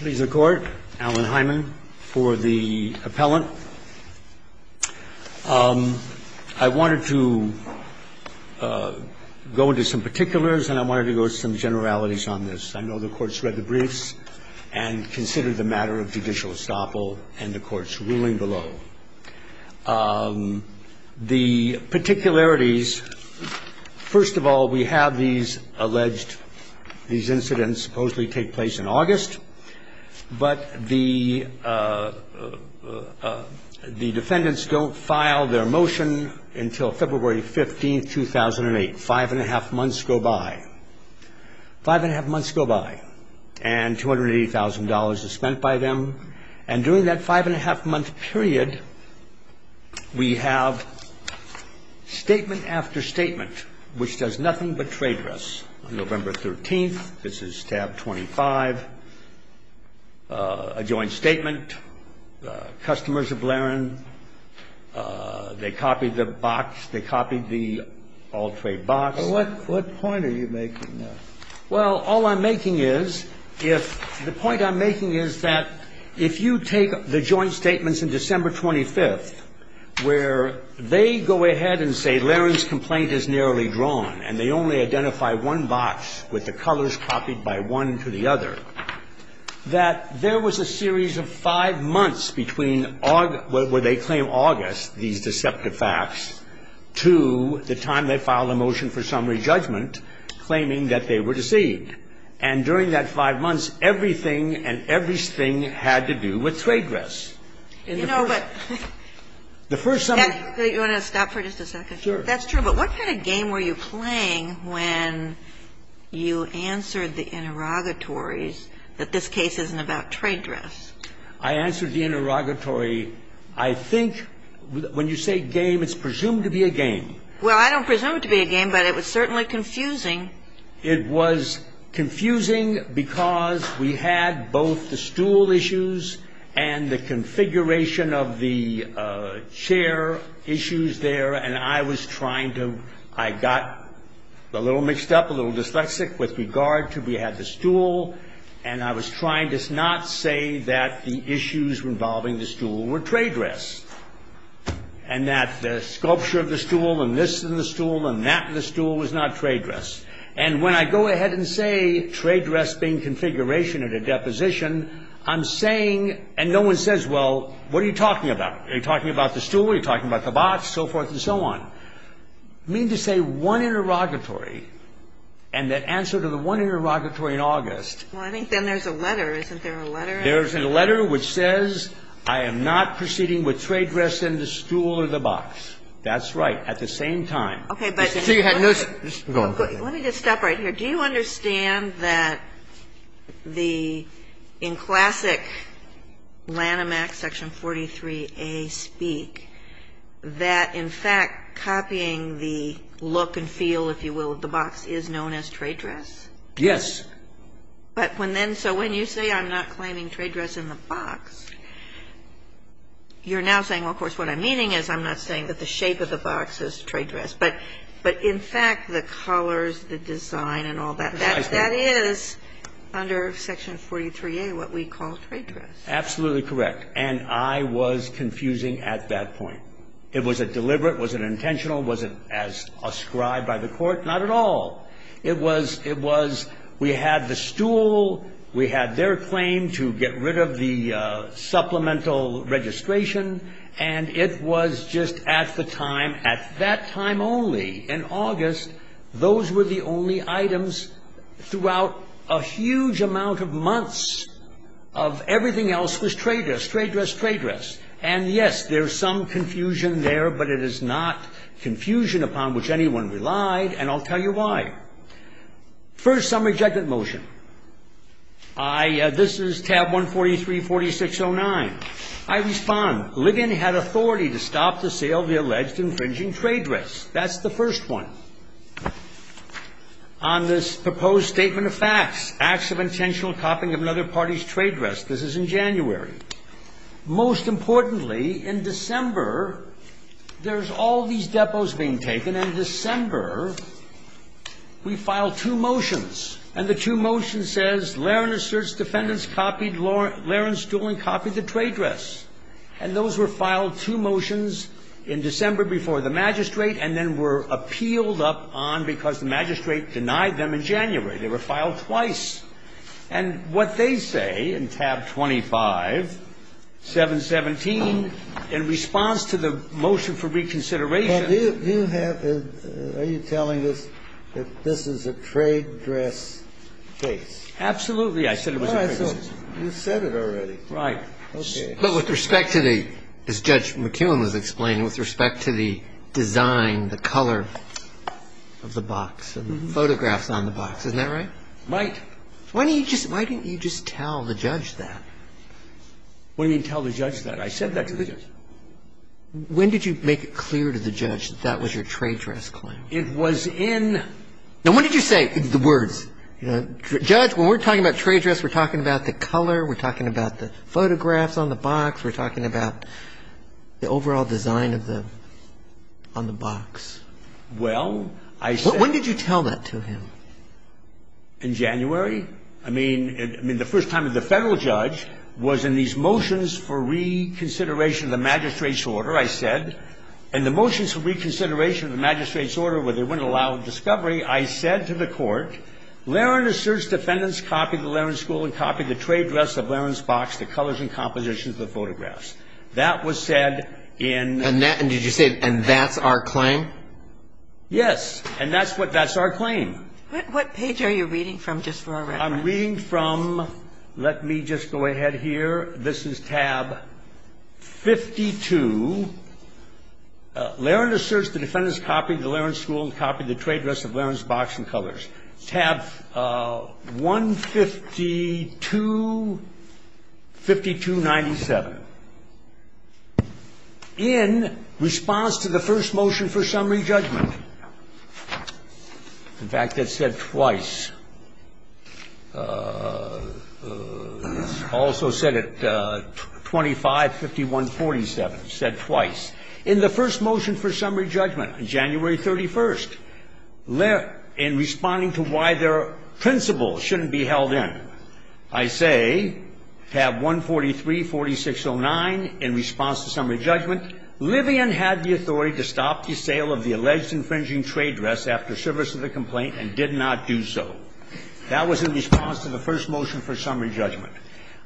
Please, the Court, Allen Hyman for the appellant. I wanted to go into some particulars and I wanted to go into some generalities on this. I know the Court's read the briefs and considered the matter of judicial estoppel and the Court's ruling below. The particularities, first of all, we have these alleged, these incidents that supposedly take place in August, but the defendants don't file their motion until February 15, 2008, five-and-a-half months go by, five-and-a-half months go by, and $280,000 is spent by them. And during that five-and-a-half-month period, we have statement after statement which does nothing but trade us. On November 13th, this is tab 25, a joint statement, customers of Larin, they copied the box, they copied the all-trade box. Well, what point are you making there? Well, all I'm making is, if the point I'm making is that if you take the joint statements in December 25th, where they go ahead and say, Larin's complaint is narrowly drawn, and they only identify one box with the colors copied by one to the other, that there was a series of five months between where they claim August, these deceptive facts, to the time they filed a motion for summary judgment, claiming that they were deceived. And during that five months, everything and everything had to do with trade us. And the first stuff that's true. But what kind of game were you playing when you answered the interrogatories that this case isn't about trade dress? I answered the interrogatory. I think when you say game, it's presumed to be a game. Well, I don't presume it to be a game, but it was certainly confusing. It was confusing because we had both the stool issues and the configuration of the chair issues there. And I was trying to, I got a little mixed up, a little dyslexic with regard to we had the stool. And I was trying to not say that the issues involving the stool were trade dress. And that the sculpture of the stool, and this in the stool, and that in the stool was not trade dress. And when I go ahead and say trade dress being configuration at a deposition, I'm saying, and no one says, well, what are you talking about? Are you talking about the stool? Are you talking about the box? So forth and so on. I mean to say one interrogatory, and the answer to the one interrogatory in August. Well, I think then there's a letter. Isn't there a letter? There's a letter which says, I am not proceeding with trade dress in the stool or the box. That's right. At the same time. OK, but let me just stop right here. Do you understand that the, in classic Lanham Act section 43A speak, that in fact, copying the look and feel, if you will, of the box is known as trade dress? Yes. But when then, so when you say I'm not claiming trade dress in the box, you're now saying, well, of course, what I'm meaning is I'm not saying that the shape of the box is trade dress. But in fact, the colors, the design and all that, that is under section 43A what we call trade dress. Absolutely correct. And I was confusing at that point. It was a deliberate, was it intentional, was it as ascribed by the court? Not at all. It was, it was, we had the stool, we had their claim to get rid of the supplemental registration, and it was just at the time, at that time only, in August, those were the only items throughout a huge amount of months of everything else was trade dress, trade dress, trade dress. And yes, there's some confusion there, but it is not confusion upon which anyone relied, and I'll tell you why. First, some rejected motion. I, this is tab 143, 4609. I respond, Ligon had authority to stop the sale of the alleged infringing trade dress. That's the first one. On this proposed statement of facts, acts of intentional copying of another party's trade dress. This is in January. Most importantly, in December, there's all these depots being taken. And in December, we filed two motions, and the two motions says, Laron asserts defendants copied Laron's stool and copied the trade dress. And those were filed two motions in December before the magistrate, and then were appealed up on because the magistrate denied them in January. They were filed twice. And what they say in tab 25, 717, in response to the motion for reconsideration of the magistrate's position, it was, do you have, are you telling us that this is a trade dress case? Absolutely. I said it was a trade dress case. You said it already. Right. Okay. But with respect to the, as Judge McKeown was explaining, with respect to the design, the color of the box and the photographs on the box, isn't that right? Right. Why didn't you just tell the judge that? Why didn't you tell the judge that? I said that to the judge. When did you make it clear to the judge that that was your trade dress claim? It was in the box. Now, when did you say, the words, you know, Judge, when we're talking about trade dress, we're talking about the color, we're talking about the photographs on the box, we're talking about the overall design of the, on the box. Well, I said. When did you tell that to him? In January. I mean, the first time that the Federal judge was in these motions for reconsideration of the magistrate's order, I said, in the motions for reconsideration of the magistrate's order where they wouldn't allow discovery, I said to the court, Larin asserts defendants copied the Larin school and copied the trade dress of Larin's box, the colors and compositions of the photographs. That was said in. And that, and did you say, and that's our claim? Yes. And that's what, that's our claim. What page are you reading from, just for our reference? I'm reading from, let me just go ahead here, this is tab 52, Larin asserts the defendants copied the Larin school and copied the trade dress of Larin's box and colors. Tab 152, 5297, in response to the first motion for summary judgment. In fact, that's said twice, also said at 25, 5147, said twice. In the first motion for summary judgment, January 31st, in responding to why their principle shouldn't be held in, I say, tab 143, 4609, in response to summary judgment, Livian had the authority to stop the sale of the alleged infringing trade dress after service of the complaint and did not do so. That was in response to the first motion for summary judgment.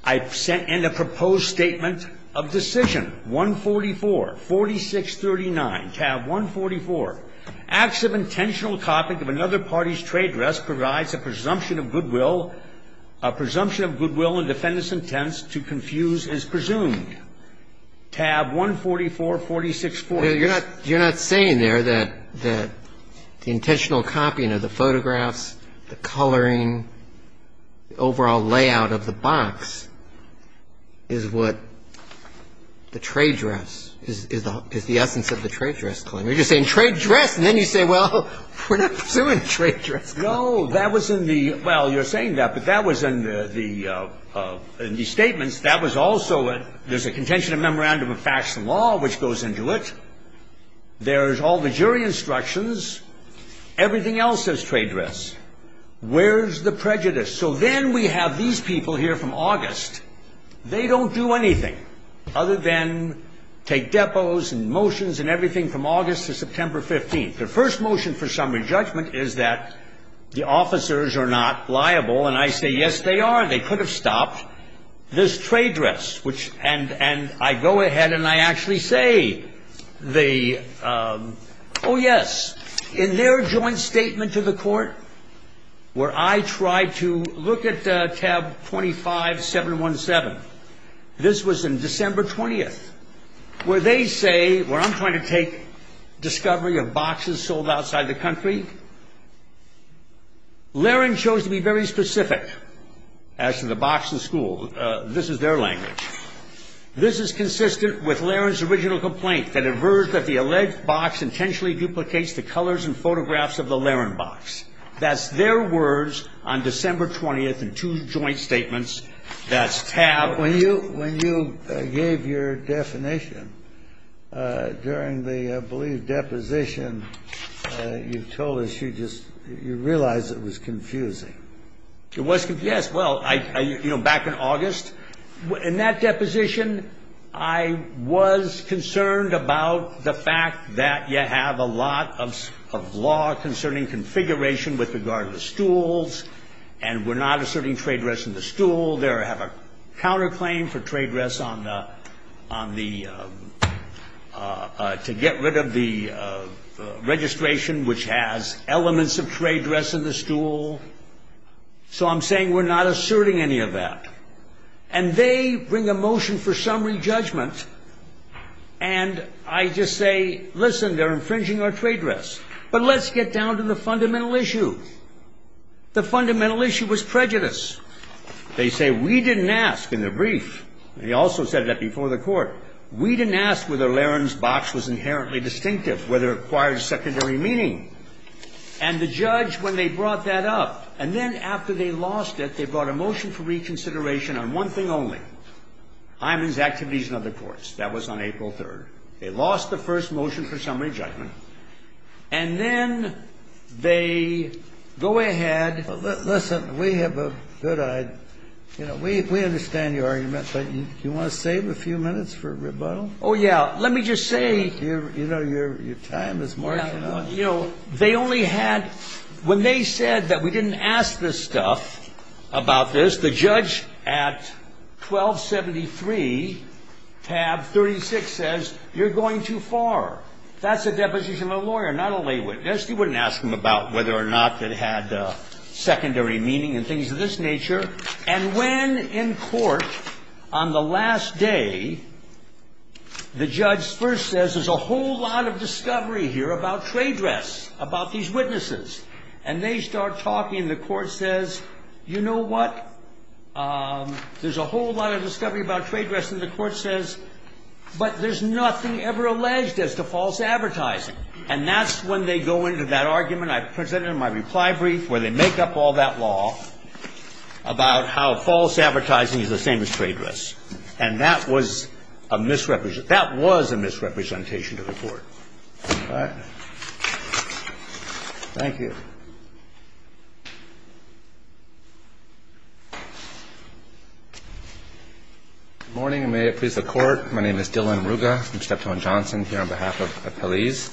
I sent in a proposed statement of decision, 144, 4639, tab 144, acts of intentional copying of another party's trade dress provides a presumption of goodwill, a presumption of goodwill and defendants' intent to confuse is presumed. And I say, tab 144, 4640. You're not saying there that the intentional copying of the photographs, the coloring, the overall layout of the box is what the trade dress, is the essence of the trade dress claim. You're just saying trade dress, and then you say, well, we're not pursuing a trade dress claim. No. That was in the – well, you're saying that, but that was in the statements. That was also a – there's a contention of memorandum of facts and law, which goes into it. There's all the jury instructions. Everything else is trade dress. Where's the prejudice? So then we have these people here from August. They don't do anything other than take depots and motions and everything from August to September 15th. The first motion for summary judgment is that the officers are not liable, and I say, yes, they are. They could have stopped. This trade dress, which – and I go ahead and I actually say the – oh, yes. In their joint statement to the court, where I tried to look at tab 25-717, this was in December 20th, where they say – where I'm trying to take discovery of boxes sold outside the country, Larin chose to be very specific as to the box and school. This is their language. This is consistent with Larin's original complaint that averse that the alleged box intentionally duplicates the colors and photographs of the Larin box. That's their words on December 20th in two joint statements. That's tab – When you – when you gave your definition during the, I believe, deposition, you told us you just – you realized it was confusing. It was – yes. Well, I – you know, back in August, in that deposition, I was concerned about the fact that you have a lot of law concerning configuration with regard to the stools, and we're not asserting trade dress in the stool. They have a counterclaim for trade dress on the – to get rid of the registration, which has elements of trade dress in the stool. So I'm saying we're not asserting any of that. And they bring a motion for summary judgment, and I just say, listen, they're infringing our trade dress, but let's get down to the fundamental issue. The fundamental issue was prejudice. They say, we didn't ask – in the brief, and he also said that before the Court – we didn't ask whether Larin's box was inherently distinctive, whether it required secondary meaning. And the judge, when they brought that up, and then after they lost it, they brought a motion for reconsideration on one thing only, Hyman's activities in other courts. That was on April 3rd. They lost the first motion for summary judgment, and then they go ahead – Well, listen, we have a good – we understand your argument, but you want to save a few minutes for rebuttal? Oh, yeah. Let me just say – You know, your time is marching on. You know, they only had – when they said that we didn't ask this stuff about this, the judge at 1273, tab 36, says, you're going too far. That's a deposition of a lawyer, not a lay witness. You wouldn't ask them about whether or not it had secondary meaning and things of this nature. And when, in court, on the last day, the judge first says, there's a whole lot of discovery here about trade rests, about these witnesses. And they start talking, and the Court says, you know what, there's a whole lot of discovery about trade rests. And the Court says, but there's nothing ever alleged as to false advertising. And that's when they go into that argument. I presented in my reply brief where they make up all that law about how false advertising is the same as trade rests. And that was a misrepresentation – that was a misrepresentation to the Court. All right? Thank you. Good morning, and may it please the Court. My name is Dillon Ruga. I'm Steptoe & Johnson here on behalf of Pelley's.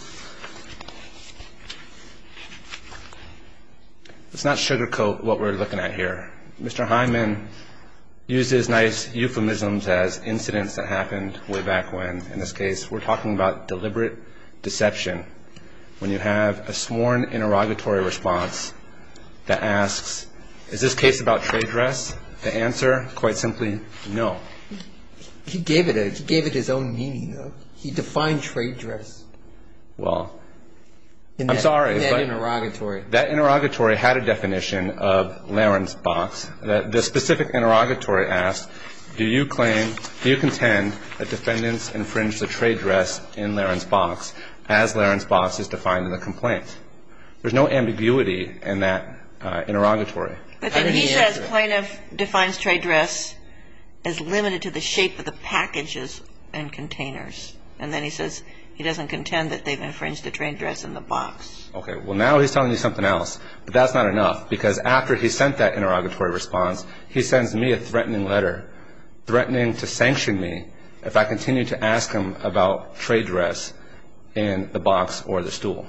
Let's not sugarcoat what we're looking at here. Mr. Hyman uses nice euphemisms as incidents that happened way back when. In this case, we're talking about deliberate deception, when you have a sworn interrogatory response that asks, is this case about trade rests? The answer, quite simply, no. He gave it a – he gave it his own meaning, though. He defined trade rests in that interrogatory. Well, I'm sorry, but that interrogatory had a definition of Larin's box. The specific interrogatory asked, do you claim – do you contend that defendants infringed a trade rest in Larin's box as Larin's box is defined in the complaint? There's no ambiguity in that interrogatory. But then he says plaintiff defines trade rests as limited to the shape of the packages and containers, and then he says he doesn't contend that they've infringed a trade rest in the box. Okay. Well, now he's telling you something else, but that's not enough, because after he sent that interrogatory response, he sends me a threatening letter, threatening to sanction me if I continue to ask him about trade rests in the box or the stool.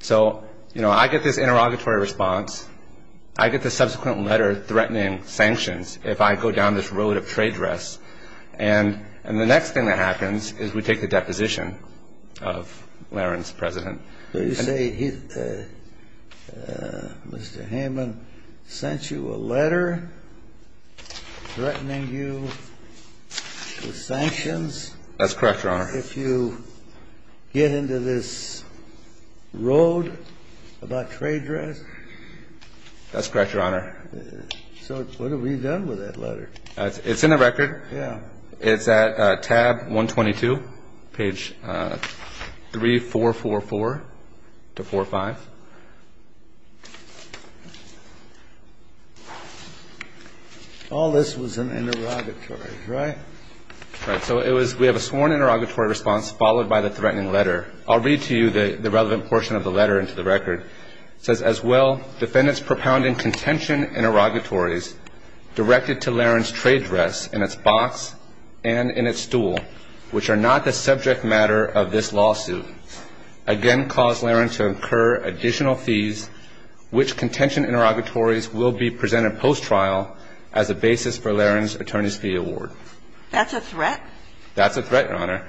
So, you know, I get this interrogatory response. I get the subsequent letter threatening sanctions if I go down this road of trade rests. And the next thing that happens is we take the deposition of Larin's president. So you say he – Mr. Hammond sent you a letter threatening you with sanctions? That's correct, Your Honor. If you get into this road about trade rests? That's correct, Your Honor. So what have we done with that letter? It's in the record. Yeah. It's at tab 122, page 3444 to 45. All this was an interrogatory, right? Right. So it was – we have a sworn interrogatory response followed by the threatening letter. I'll read to you the relevant portion of the letter into the record. It says, as well, defendants propounding contention interrogatories directed to Larin's trade rests in its box and in its stool, which are not the subject matter of this lawsuit, again cause Larin to incur additional fees, which contention interrogatories will be presented post-trial as a basis for Larin's attorney's fee award. That's a threat? That's a threat, Your Honor.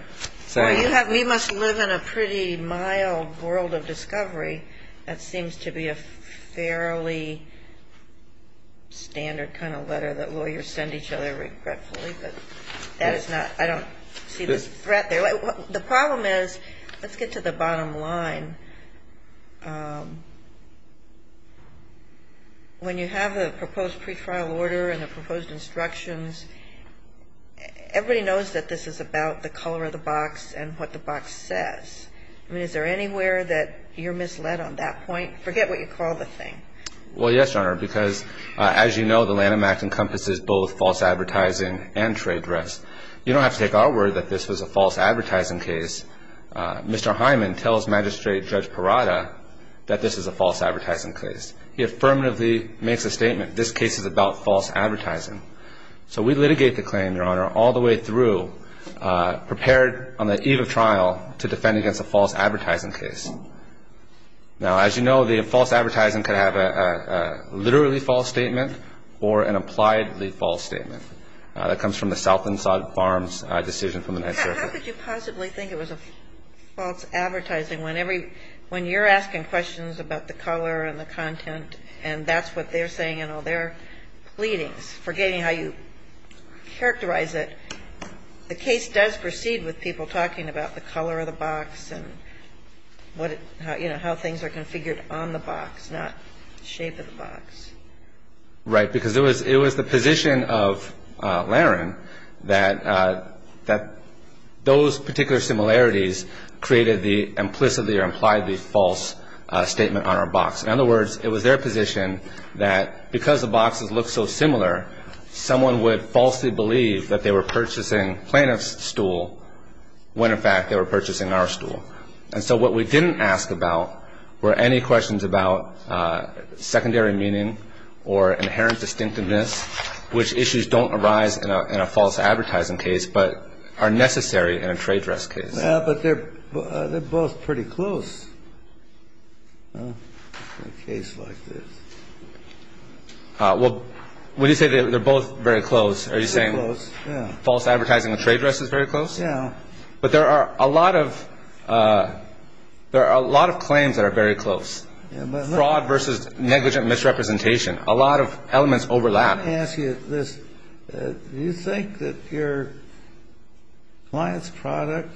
Well, you have – we must live in a pretty mild world of discovery. That seems to be a fairly standard kind of letter that lawyers send each other regretfully. But that is not – I don't see the threat there. The problem is – let's get to the bottom line. When you have a proposed pretrial order and the proposed instructions, everybody knows that this is about the color of the box and what the box says. I mean, is there anywhere that you're misled on that point? Forget what you call the thing. Well, yes, Your Honor, because as you know, the Lanham Act encompasses both false advertising and trade rests. You don't have to take our word that this was a false advertising case. Mr. Hyman tells Magistrate Judge Parada that this is a false advertising case. He affirmatively makes a statement, this case is about false advertising. So we litigate the claim, Your Honor, all the way through, prepared on the eve of trial to defend against a false advertising case. Now, as you know, the false advertising could have a literally false statement or an appliedly false statement. That comes from the Southland Sod Farms decision from the 9th Circuit. But how could you possibly think it was a false advertising when you're asking questions about the color and the content and that's what they're saying in all their pleadings, forgetting how you characterize it. The case does proceed with people talking about the color of the box and how things are configured on the box, not the shape of the box. Right, because it was the position of Larin that those particular similarities created the implicitly or impliedly false statement on our box. In other words, it was their position that because the boxes look so similar, someone would falsely believe that they were purchasing plaintiff's stool when in fact they were purchasing our stool. And so what we didn't ask about were any questions about or inherent distinctiveness, which issues don't arise in a false advertising case but are necessary in a trade dress case. But they're both pretty close in a case like this. Well, when you say they're both very close, are you saying false advertising and trade dress is very close? Yeah. But there are a lot of claims that are very close. Fraud versus negligent misrepresentation. A lot of elements overlap. Let me ask you this. Do you think that your client's product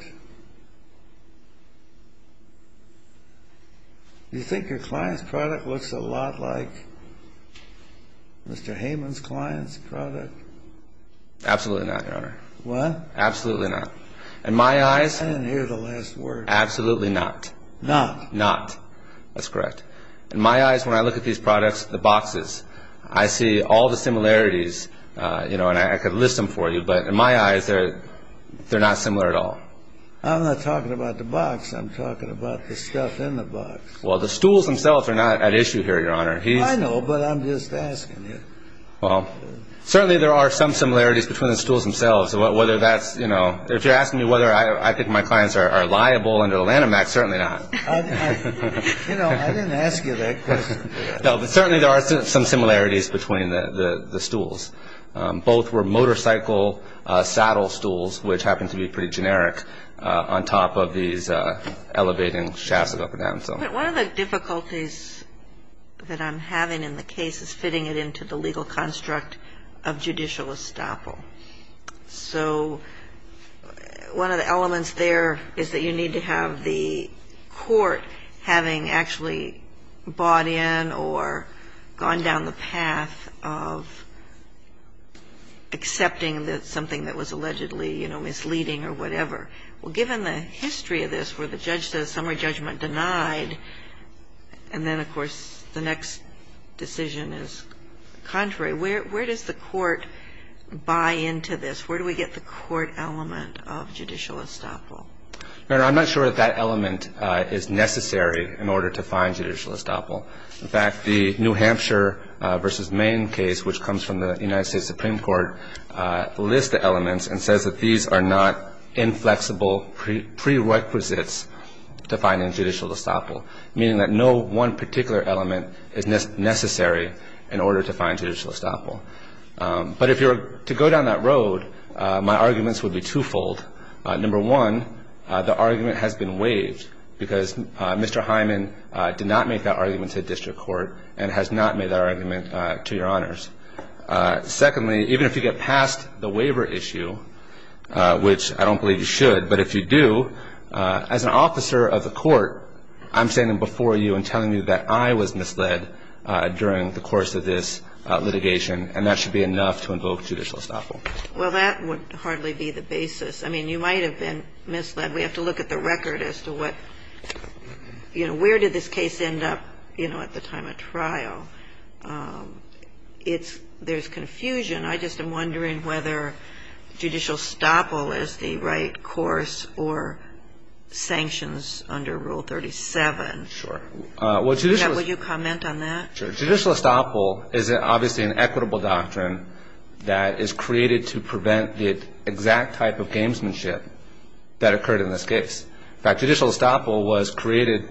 looks a lot like Mr. Heyman's client's product? Absolutely not, Your Honor. What? Absolutely not. In my eyes... I didn't hear the last word. Absolutely not. Not? Not. That's correct. In my eyes, when I look at these products, the boxes, I see all the similarities, you know, and I could list them for you, but in my eyes, they're not similar at all. I'm not talking about the box. I'm talking about the stuff in the box. Well, the stools themselves are not at issue here, Your Honor. I know, but I'm just asking. Well, certainly there are some similarities between the stools themselves. Whether that's, you know... If you're asking me whether I think my clients are liable under the Lanham Act, certainly not. You know, I didn't ask you that question. No, but certainly there are some similarities between the stools. Both were motorcycle saddle stools, which happen to be pretty generic, on top of these elevating shafts up and down. But one of the difficulties that I'm having in the case is fitting it into the legal construct of judicial estoppel. So one of the elements there is that you need to have the court having actually bought in or gone down the path of accepting something that was allegedly misleading or whatever. Well, given the history of this, where the judge says summary judgment denied, and then, of course, the next decision is contrary, where does the court buy into this? Where do we get the court element of judicial estoppel? No, no, I'm not sure that that element is necessary in order to find judicial estoppel. In fact, the New Hampshire v. Maine case, which comes from the United States Supreme Court, lists the elements and says that these are not inflexible prerequisites to finding judicial estoppel. Meaning that no one particular element is necessary in order to find judicial estoppel. But if you were to go down that road, my arguments would be twofold. Number one, the argument has been waived because Mr. Hyman did not make that argument to the district court and has not made that argument to your honors. Secondly, even if you get past the waiver issue, which I don't believe you should, but if you do, as an officer of the court, I'm standing before you and telling you that I was misled during the course of this litigation and that should be enough to invoke judicial estoppel. Well, that would hardly be the basis. I mean, you might have been misled. We have to look at the record as to what, you know, where did this case end up, you know, at the time of trial. There's confusion. I just am wondering whether judicial estoppel is the right course or sanctions under Rule 37. Sure. Would you comment on that? Judicial estoppel is obviously an equitable doctrine that is created to prevent the exact type of gamesmanship that occurred in this case. In fact, judicial estoppel was created,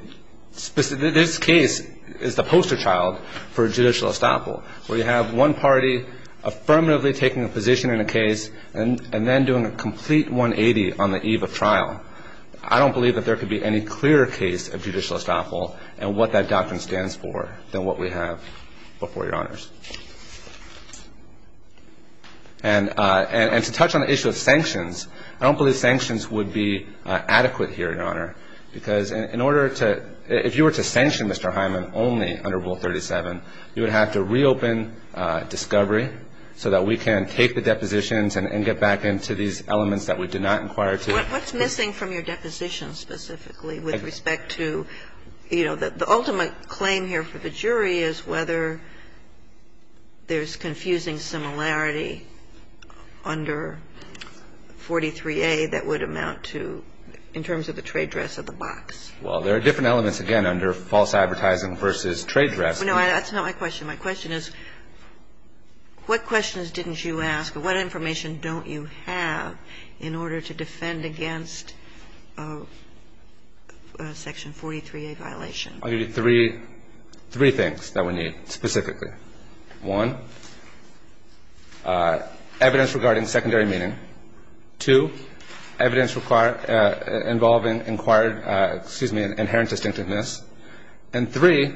this case is the poster child for judicial estoppel, where you have one party affirmatively taking a position in a case and then doing a complete 180 on the eve of trial. I don't believe that there could be any clearer case of judicial estoppel and what that doctrine stands for than what we have before Your Honors. And to touch on the issue of sanctions, I don't believe sanctions would be adequate here, Your Honor, because if you were to sanction Mr. Hyman only under Rule 37, you would have to reopen discovery so that we can take the depositions and get back into these elements that we did not inquire to. What's missing from your deposition specifically with respect to, you know, the ultimate claim here for the jury is whether there's confusing similarity under 43A that would amount to in terms of the trade dress of the box. Well, there are different elements, again, under false advertising versus trade dress. No, that's not my question. My question is what questions didn't you ask or what information don't you have in order to defend against Section 43A violation? I'll give you three things that we need specifically. One, evidence regarding secondary meaning. Two, evidence involving inquired, excuse me, inherent distinctiveness. And three,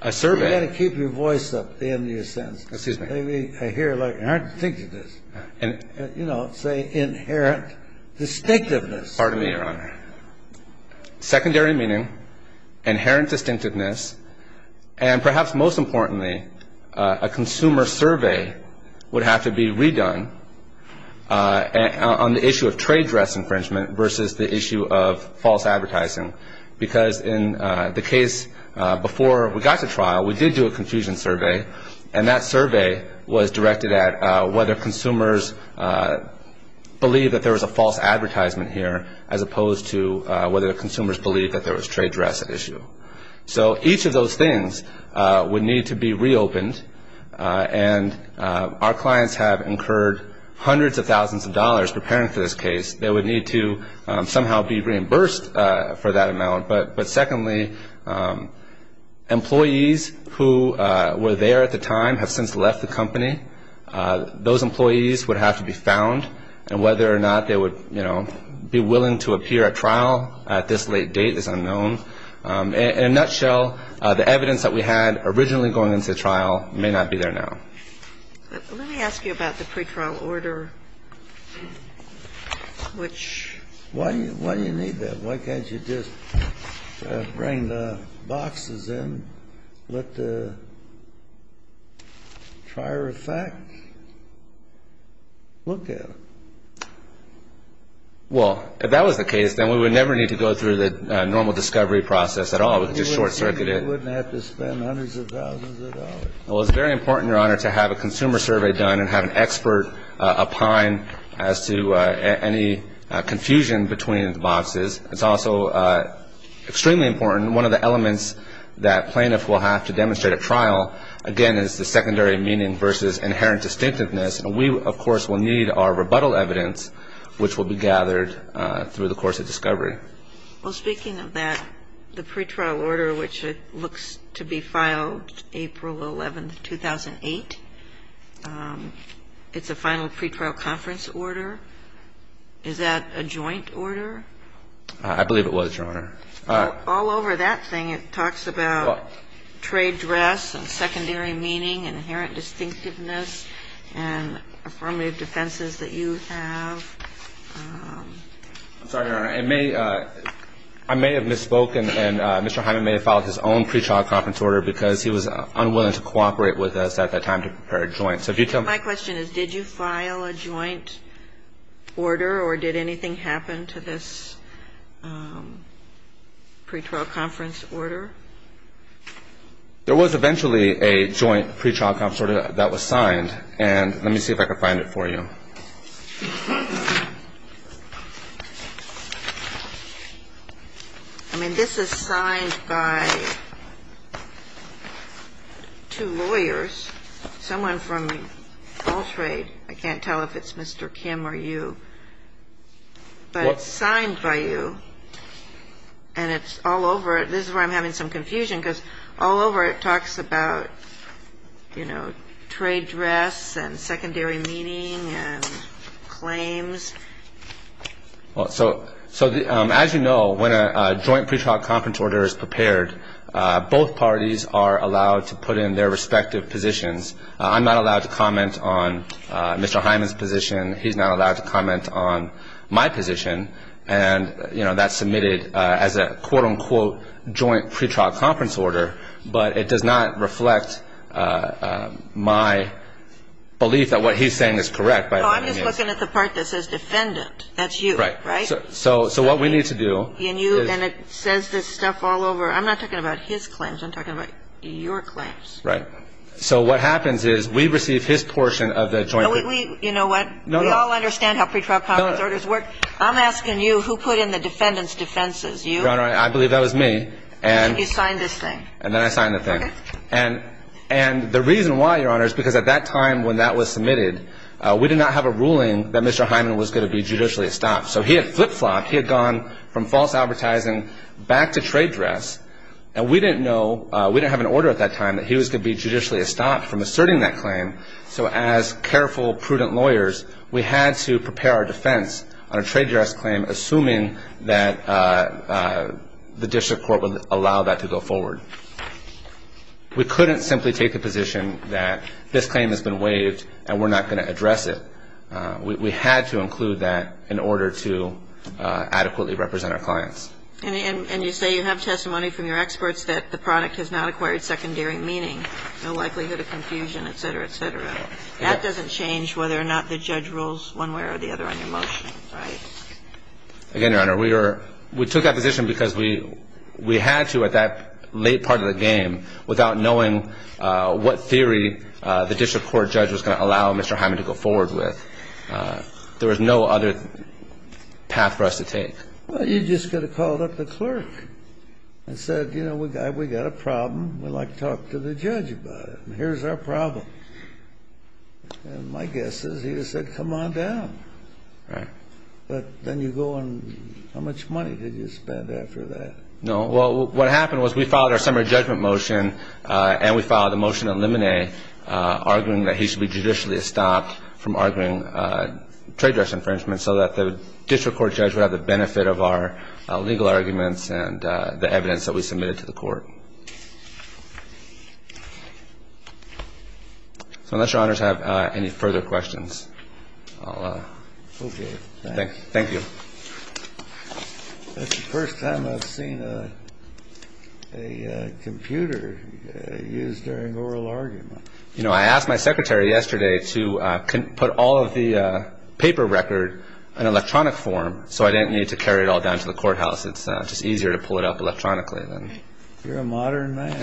a survey. You've got to keep your voice up at the end of your sentence. Excuse me. I hear, like, inherent distinctiveness. You know, say inherent distinctiveness. Pardon me, Your Honor. Secondary meaning, inherent distinctiveness, and perhaps most importantly, a consumer survey would have to be redone on the issue of trade dress infringement versus the issue of false advertising. Because in the case before we got to trial, we did do a confusion survey, and that survey was directed at whether consumers believe that there was a false advertisement here as opposed to whether consumers believe that there was trade dress at issue. So each of those things would need to be reopened, and our clients have incurred hundreds of thousands of dollars preparing for this case. They would need to somehow be reimbursed for that amount. But secondly, employees who were there at the time and have since left the company, those employees would have to be found, and whether or not they would, you know, be willing to appear at trial at this late date is unknown. In a nutshell, the evidence that we had originally going into the trial may not be there now. Let me ask you about the pretrial order, which... Why do you need that? Why can't you just bring the boxes in, let the trier of facts look at them? Well, if that was the case, then we would never need to go through the normal discovery process at all. It would just short-circuit it. You wouldn't have to spend hundreds of thousands of dollars. Well, it's very important, Your Honor, to have a consumer survey done and have an expert opine as to any confusion between the boxes. It's also extremely important, and one of the elements that plaintiffs will have to demonstrate at trial, again, is the secondary meaning versus inherent distinctiveness, and we, of course, will need our rebuttal evidence, which will be gathered through the course of discovery. Well, speaking of that, the pretrial order, which looks to be filed April 11, 2008, it's a final pretrial conference order. Is that a joint order? I believe it was, Your Honor. All over that thing, it talks about trade dress and secondary meaning and inherent distinctiveness and affirmative defenses that you have. I'm sorry, Your Honor. I may have misspoken, and Mr. Hyman may have filed his own pretrial conference order because he was unwilling to cooperate with us at that time to prepare a joint. My question is, did you file a joint order or did anything happen to this pretrial conference order? There was eventually a joint pretrial conference order that was signed, and let me see if I can find it for you. I mean, this is signed by two lawyers, someone from All Trade. I can't tell if it's Mr. Kim or you, but it's signed by you. And it's all over. This is where I'm having some confusion because all over it talks about trade dress and secondary meaning and claims. As you know, when a joint pretrial conference order is prepared, both parties are allowed to put in their respective positions. I'm not allowed to comment on Mr. Hyman's position. He's not allowed to comment on my position, and that's submitted as a quote-unquote joint pretrial conference order. But it does not reflect my belief that what he's saying is correct. I'm just looking at the part that says defendant. That's you, right? So what we need to do I'm not talking about his claims. I'm talking about your claims. So what happens is we receive his portion of the joint... We all understand how pretrial conference orders work. I'm asking you who put in the defendant's defenses. Your Honor, I believe that was me. And you signed this thing. And then I signed the thing. And the reason why, Your Honor, is because at that time when that was submitted, we did not have a ruling that Mr. Hyman was going to be judicially estopped. So he had flip-flopped. He had gone from false advertising back to trade dress, and we didn't have an order at that time that he was going to be judicially estopped from asserting that claim. So as careful, prudent lawyers, we had to prepare our defense on a trade dress claim, assuming that the district court would allow that to go forward. We couldn't simply take the position that this claim has been waived, and we're not going to address it. We had to include that in order to adequately represent our clients. And you say you have testimony from your experts that the product has not acquired a secondary meaning, no likelihood of confusion, etc., etc. That doesn't change whether or not the judge rules one way or the other on your motion. Right. Again, Your Honor, we took that position because we had to at that late part of the game, without knowing what theory the district court judge was going to allow Mr. Hyman to go forward with. There was no other path for us to take. Well, you just could have called up the clerk and said, you know, we've got a problem, we'd like to talk to the judge about it, and here's our problem. And my guess is he would have said, come on down. Right. But then you go on, how much money did you spend after that? Well, what happened was we filed our summary judgment motion and we filed a motion to eliminate arguing that he should be judicially stopped from arguing trade dress infringement so that the district court judge would have the benefit of our legal arguments and the evidence that we submitted to the court. So unless Your Honor have any further questions, I'll thank you. It's the first time I've seen a computer used during oral argument. I asked my secretary yesterday to put all of the paper record in electronic form so I didn't need to carry it all down to the courthouse. It's just easier to pull it up electronically. You're a modern man.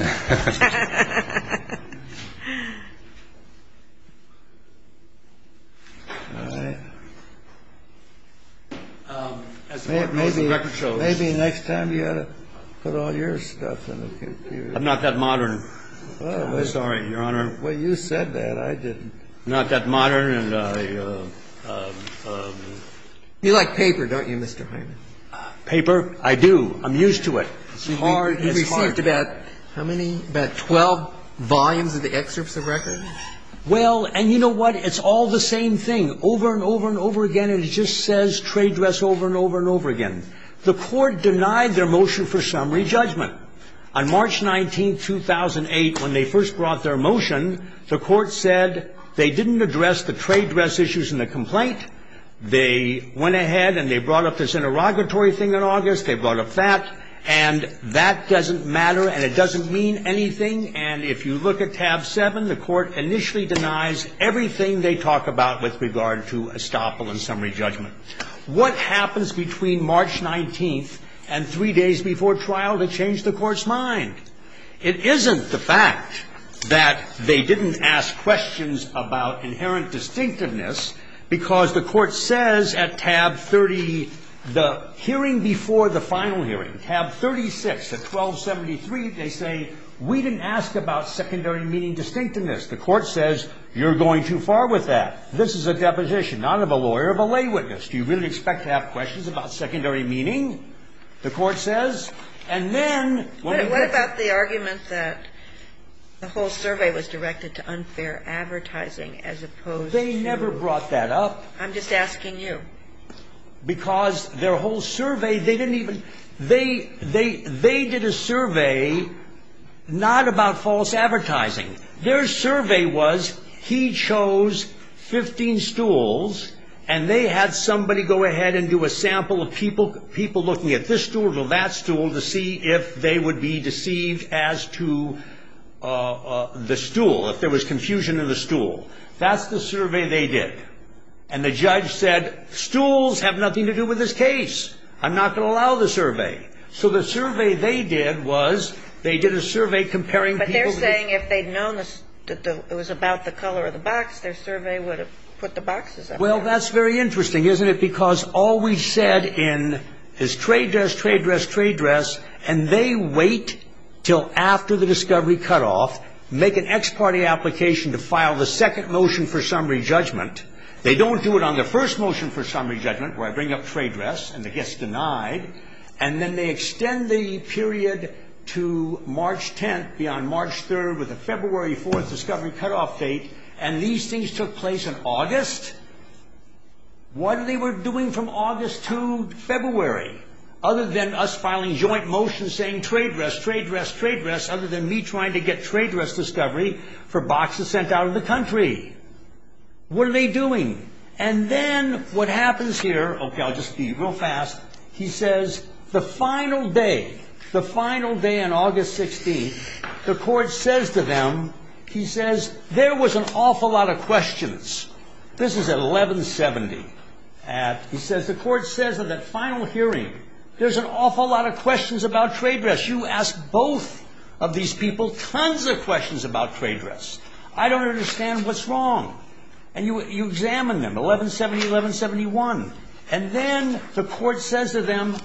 Maybe next time you put all your stuff in a computer. I'm not that modern. I'm sorry, Your Honor. I'm not that modern. You like paper, don't you, Mr. Hyman? Paper? I do. I'm used to it. You've received about 12 volumes of the excerpts of record? Well, and you know what? It's all the same thing over and over and over again and it just says trade dress over and over and over again. The court denied their motion for summary judgment. On March 19, 2008 when they first brought their motion the court said they didn't address the trade dress issues in the complaint. They went ahead and they brought up this interrogatory thing in August they brought up that and that doesn't matter and it doesn't mean anything and if you look at tab 7 the court initially denies everything they talk about with regard to estoppel and summary judgment. What happens between March 19 and 3 days before trial to change the court's mind? It isn't the fact that they didn't ask questions about inherent distinctiveness because the court says at tab 30 the hearing before the final hearing tab 36 at 1273 they say we didn't ask about secondary meaning distinctiveness the court says you're going too far with that. This is a deposition not of a lawyer of a lay witness. Do you really expect to have questions about secondary meaning? The court says and then What about the argument that the whole survey was directed to unfair advertising as opposed to They never brought that up. I'm just asking you. Because their whole survey they didn't even they did a survey not about false advertising. Their survey was he chose 15 stools and they had somebody go ahead and do a sample of people looking at this stool or that stool to see if they would be deceived as to the stool. If there was confusion in the stool. That's the survey they did. And the judge said stools have nothing to do with this case I'm not going to allow the survey So the survey they did was they did a survey comparing But they're saying if they'd known it was about the color of the box their survey would have put the boxes up Well that's very interesting isn't it because all we said in is trade dress trade dress trade dress and they wait till after the discovery cut off make an ex-party application to file the second motion for summary judgment They don't do it on the first motion for summary judgment where I bring up trade dress and it gets denied and then they extend the period to March 10th beyond March 3rd with a February 4th discovery cut off date and these things took place in August What are they doing from August to February other than us filing joint motions saying trade dress trade dress trade dress other than me trying to get trade dress discovery for boxes sent out of the country what are they doing and then what happens here he says the final day the final day on August 16th the court says to them there was an awful lot of questions this is at 1170 he says the court says at the final hearing there's an awful lot of questions about trade dress you ask both of these people tons of questions about trade dress I don't understand what's wrong and you examine them 1170, 1171 and then the court says to them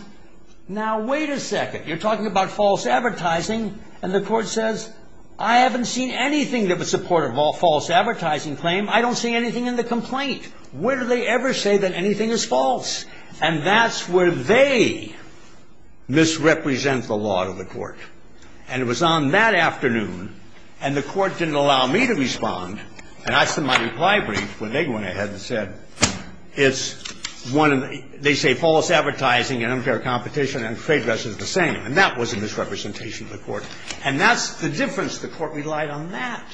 now wait a second you're talking about false advertising and the court says I haven't seen anything that was supportive of false advertising claim I don't see anything in the complaint where do they ever say that anything is false and that's where they misrepresent the law of the court and it was on that afternoon and the court didn't allow me to respond and I sent my reply brief when they went ahead and said it's one of the false advertising and unfair competition and trade dress is the same and that was a misrepresentation of the court and that's the difference the court relied on that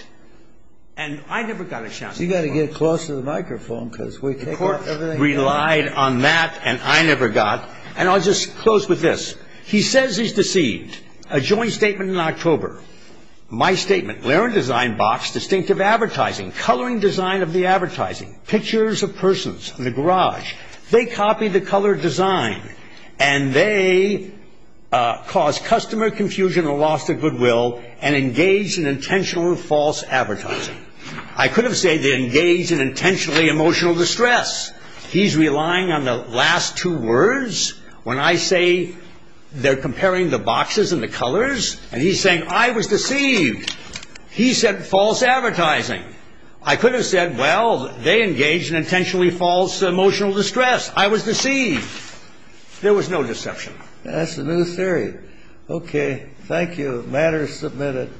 and I never got a chance you've got to get close to the microphone the court relied on that and I never got and I'll just close with this he says he's deceived a joint statement in October my statement, blaring design box, distinctive advertising coloring design of the advertising pictures of persons in the garage they copied the color design and they caused customer confusion and lost their goodwill and engaged in intentional false advertising I could have said they engaged in intentionally emotional distress he's relying on the last two words when I say they're comparing the boxes and the colors and he's saying I was deceived he said false advertising I could have said well they engaged in intentionally false emotional distress I was deceived there was no deception that's a new theory ok thank you, matter is submitted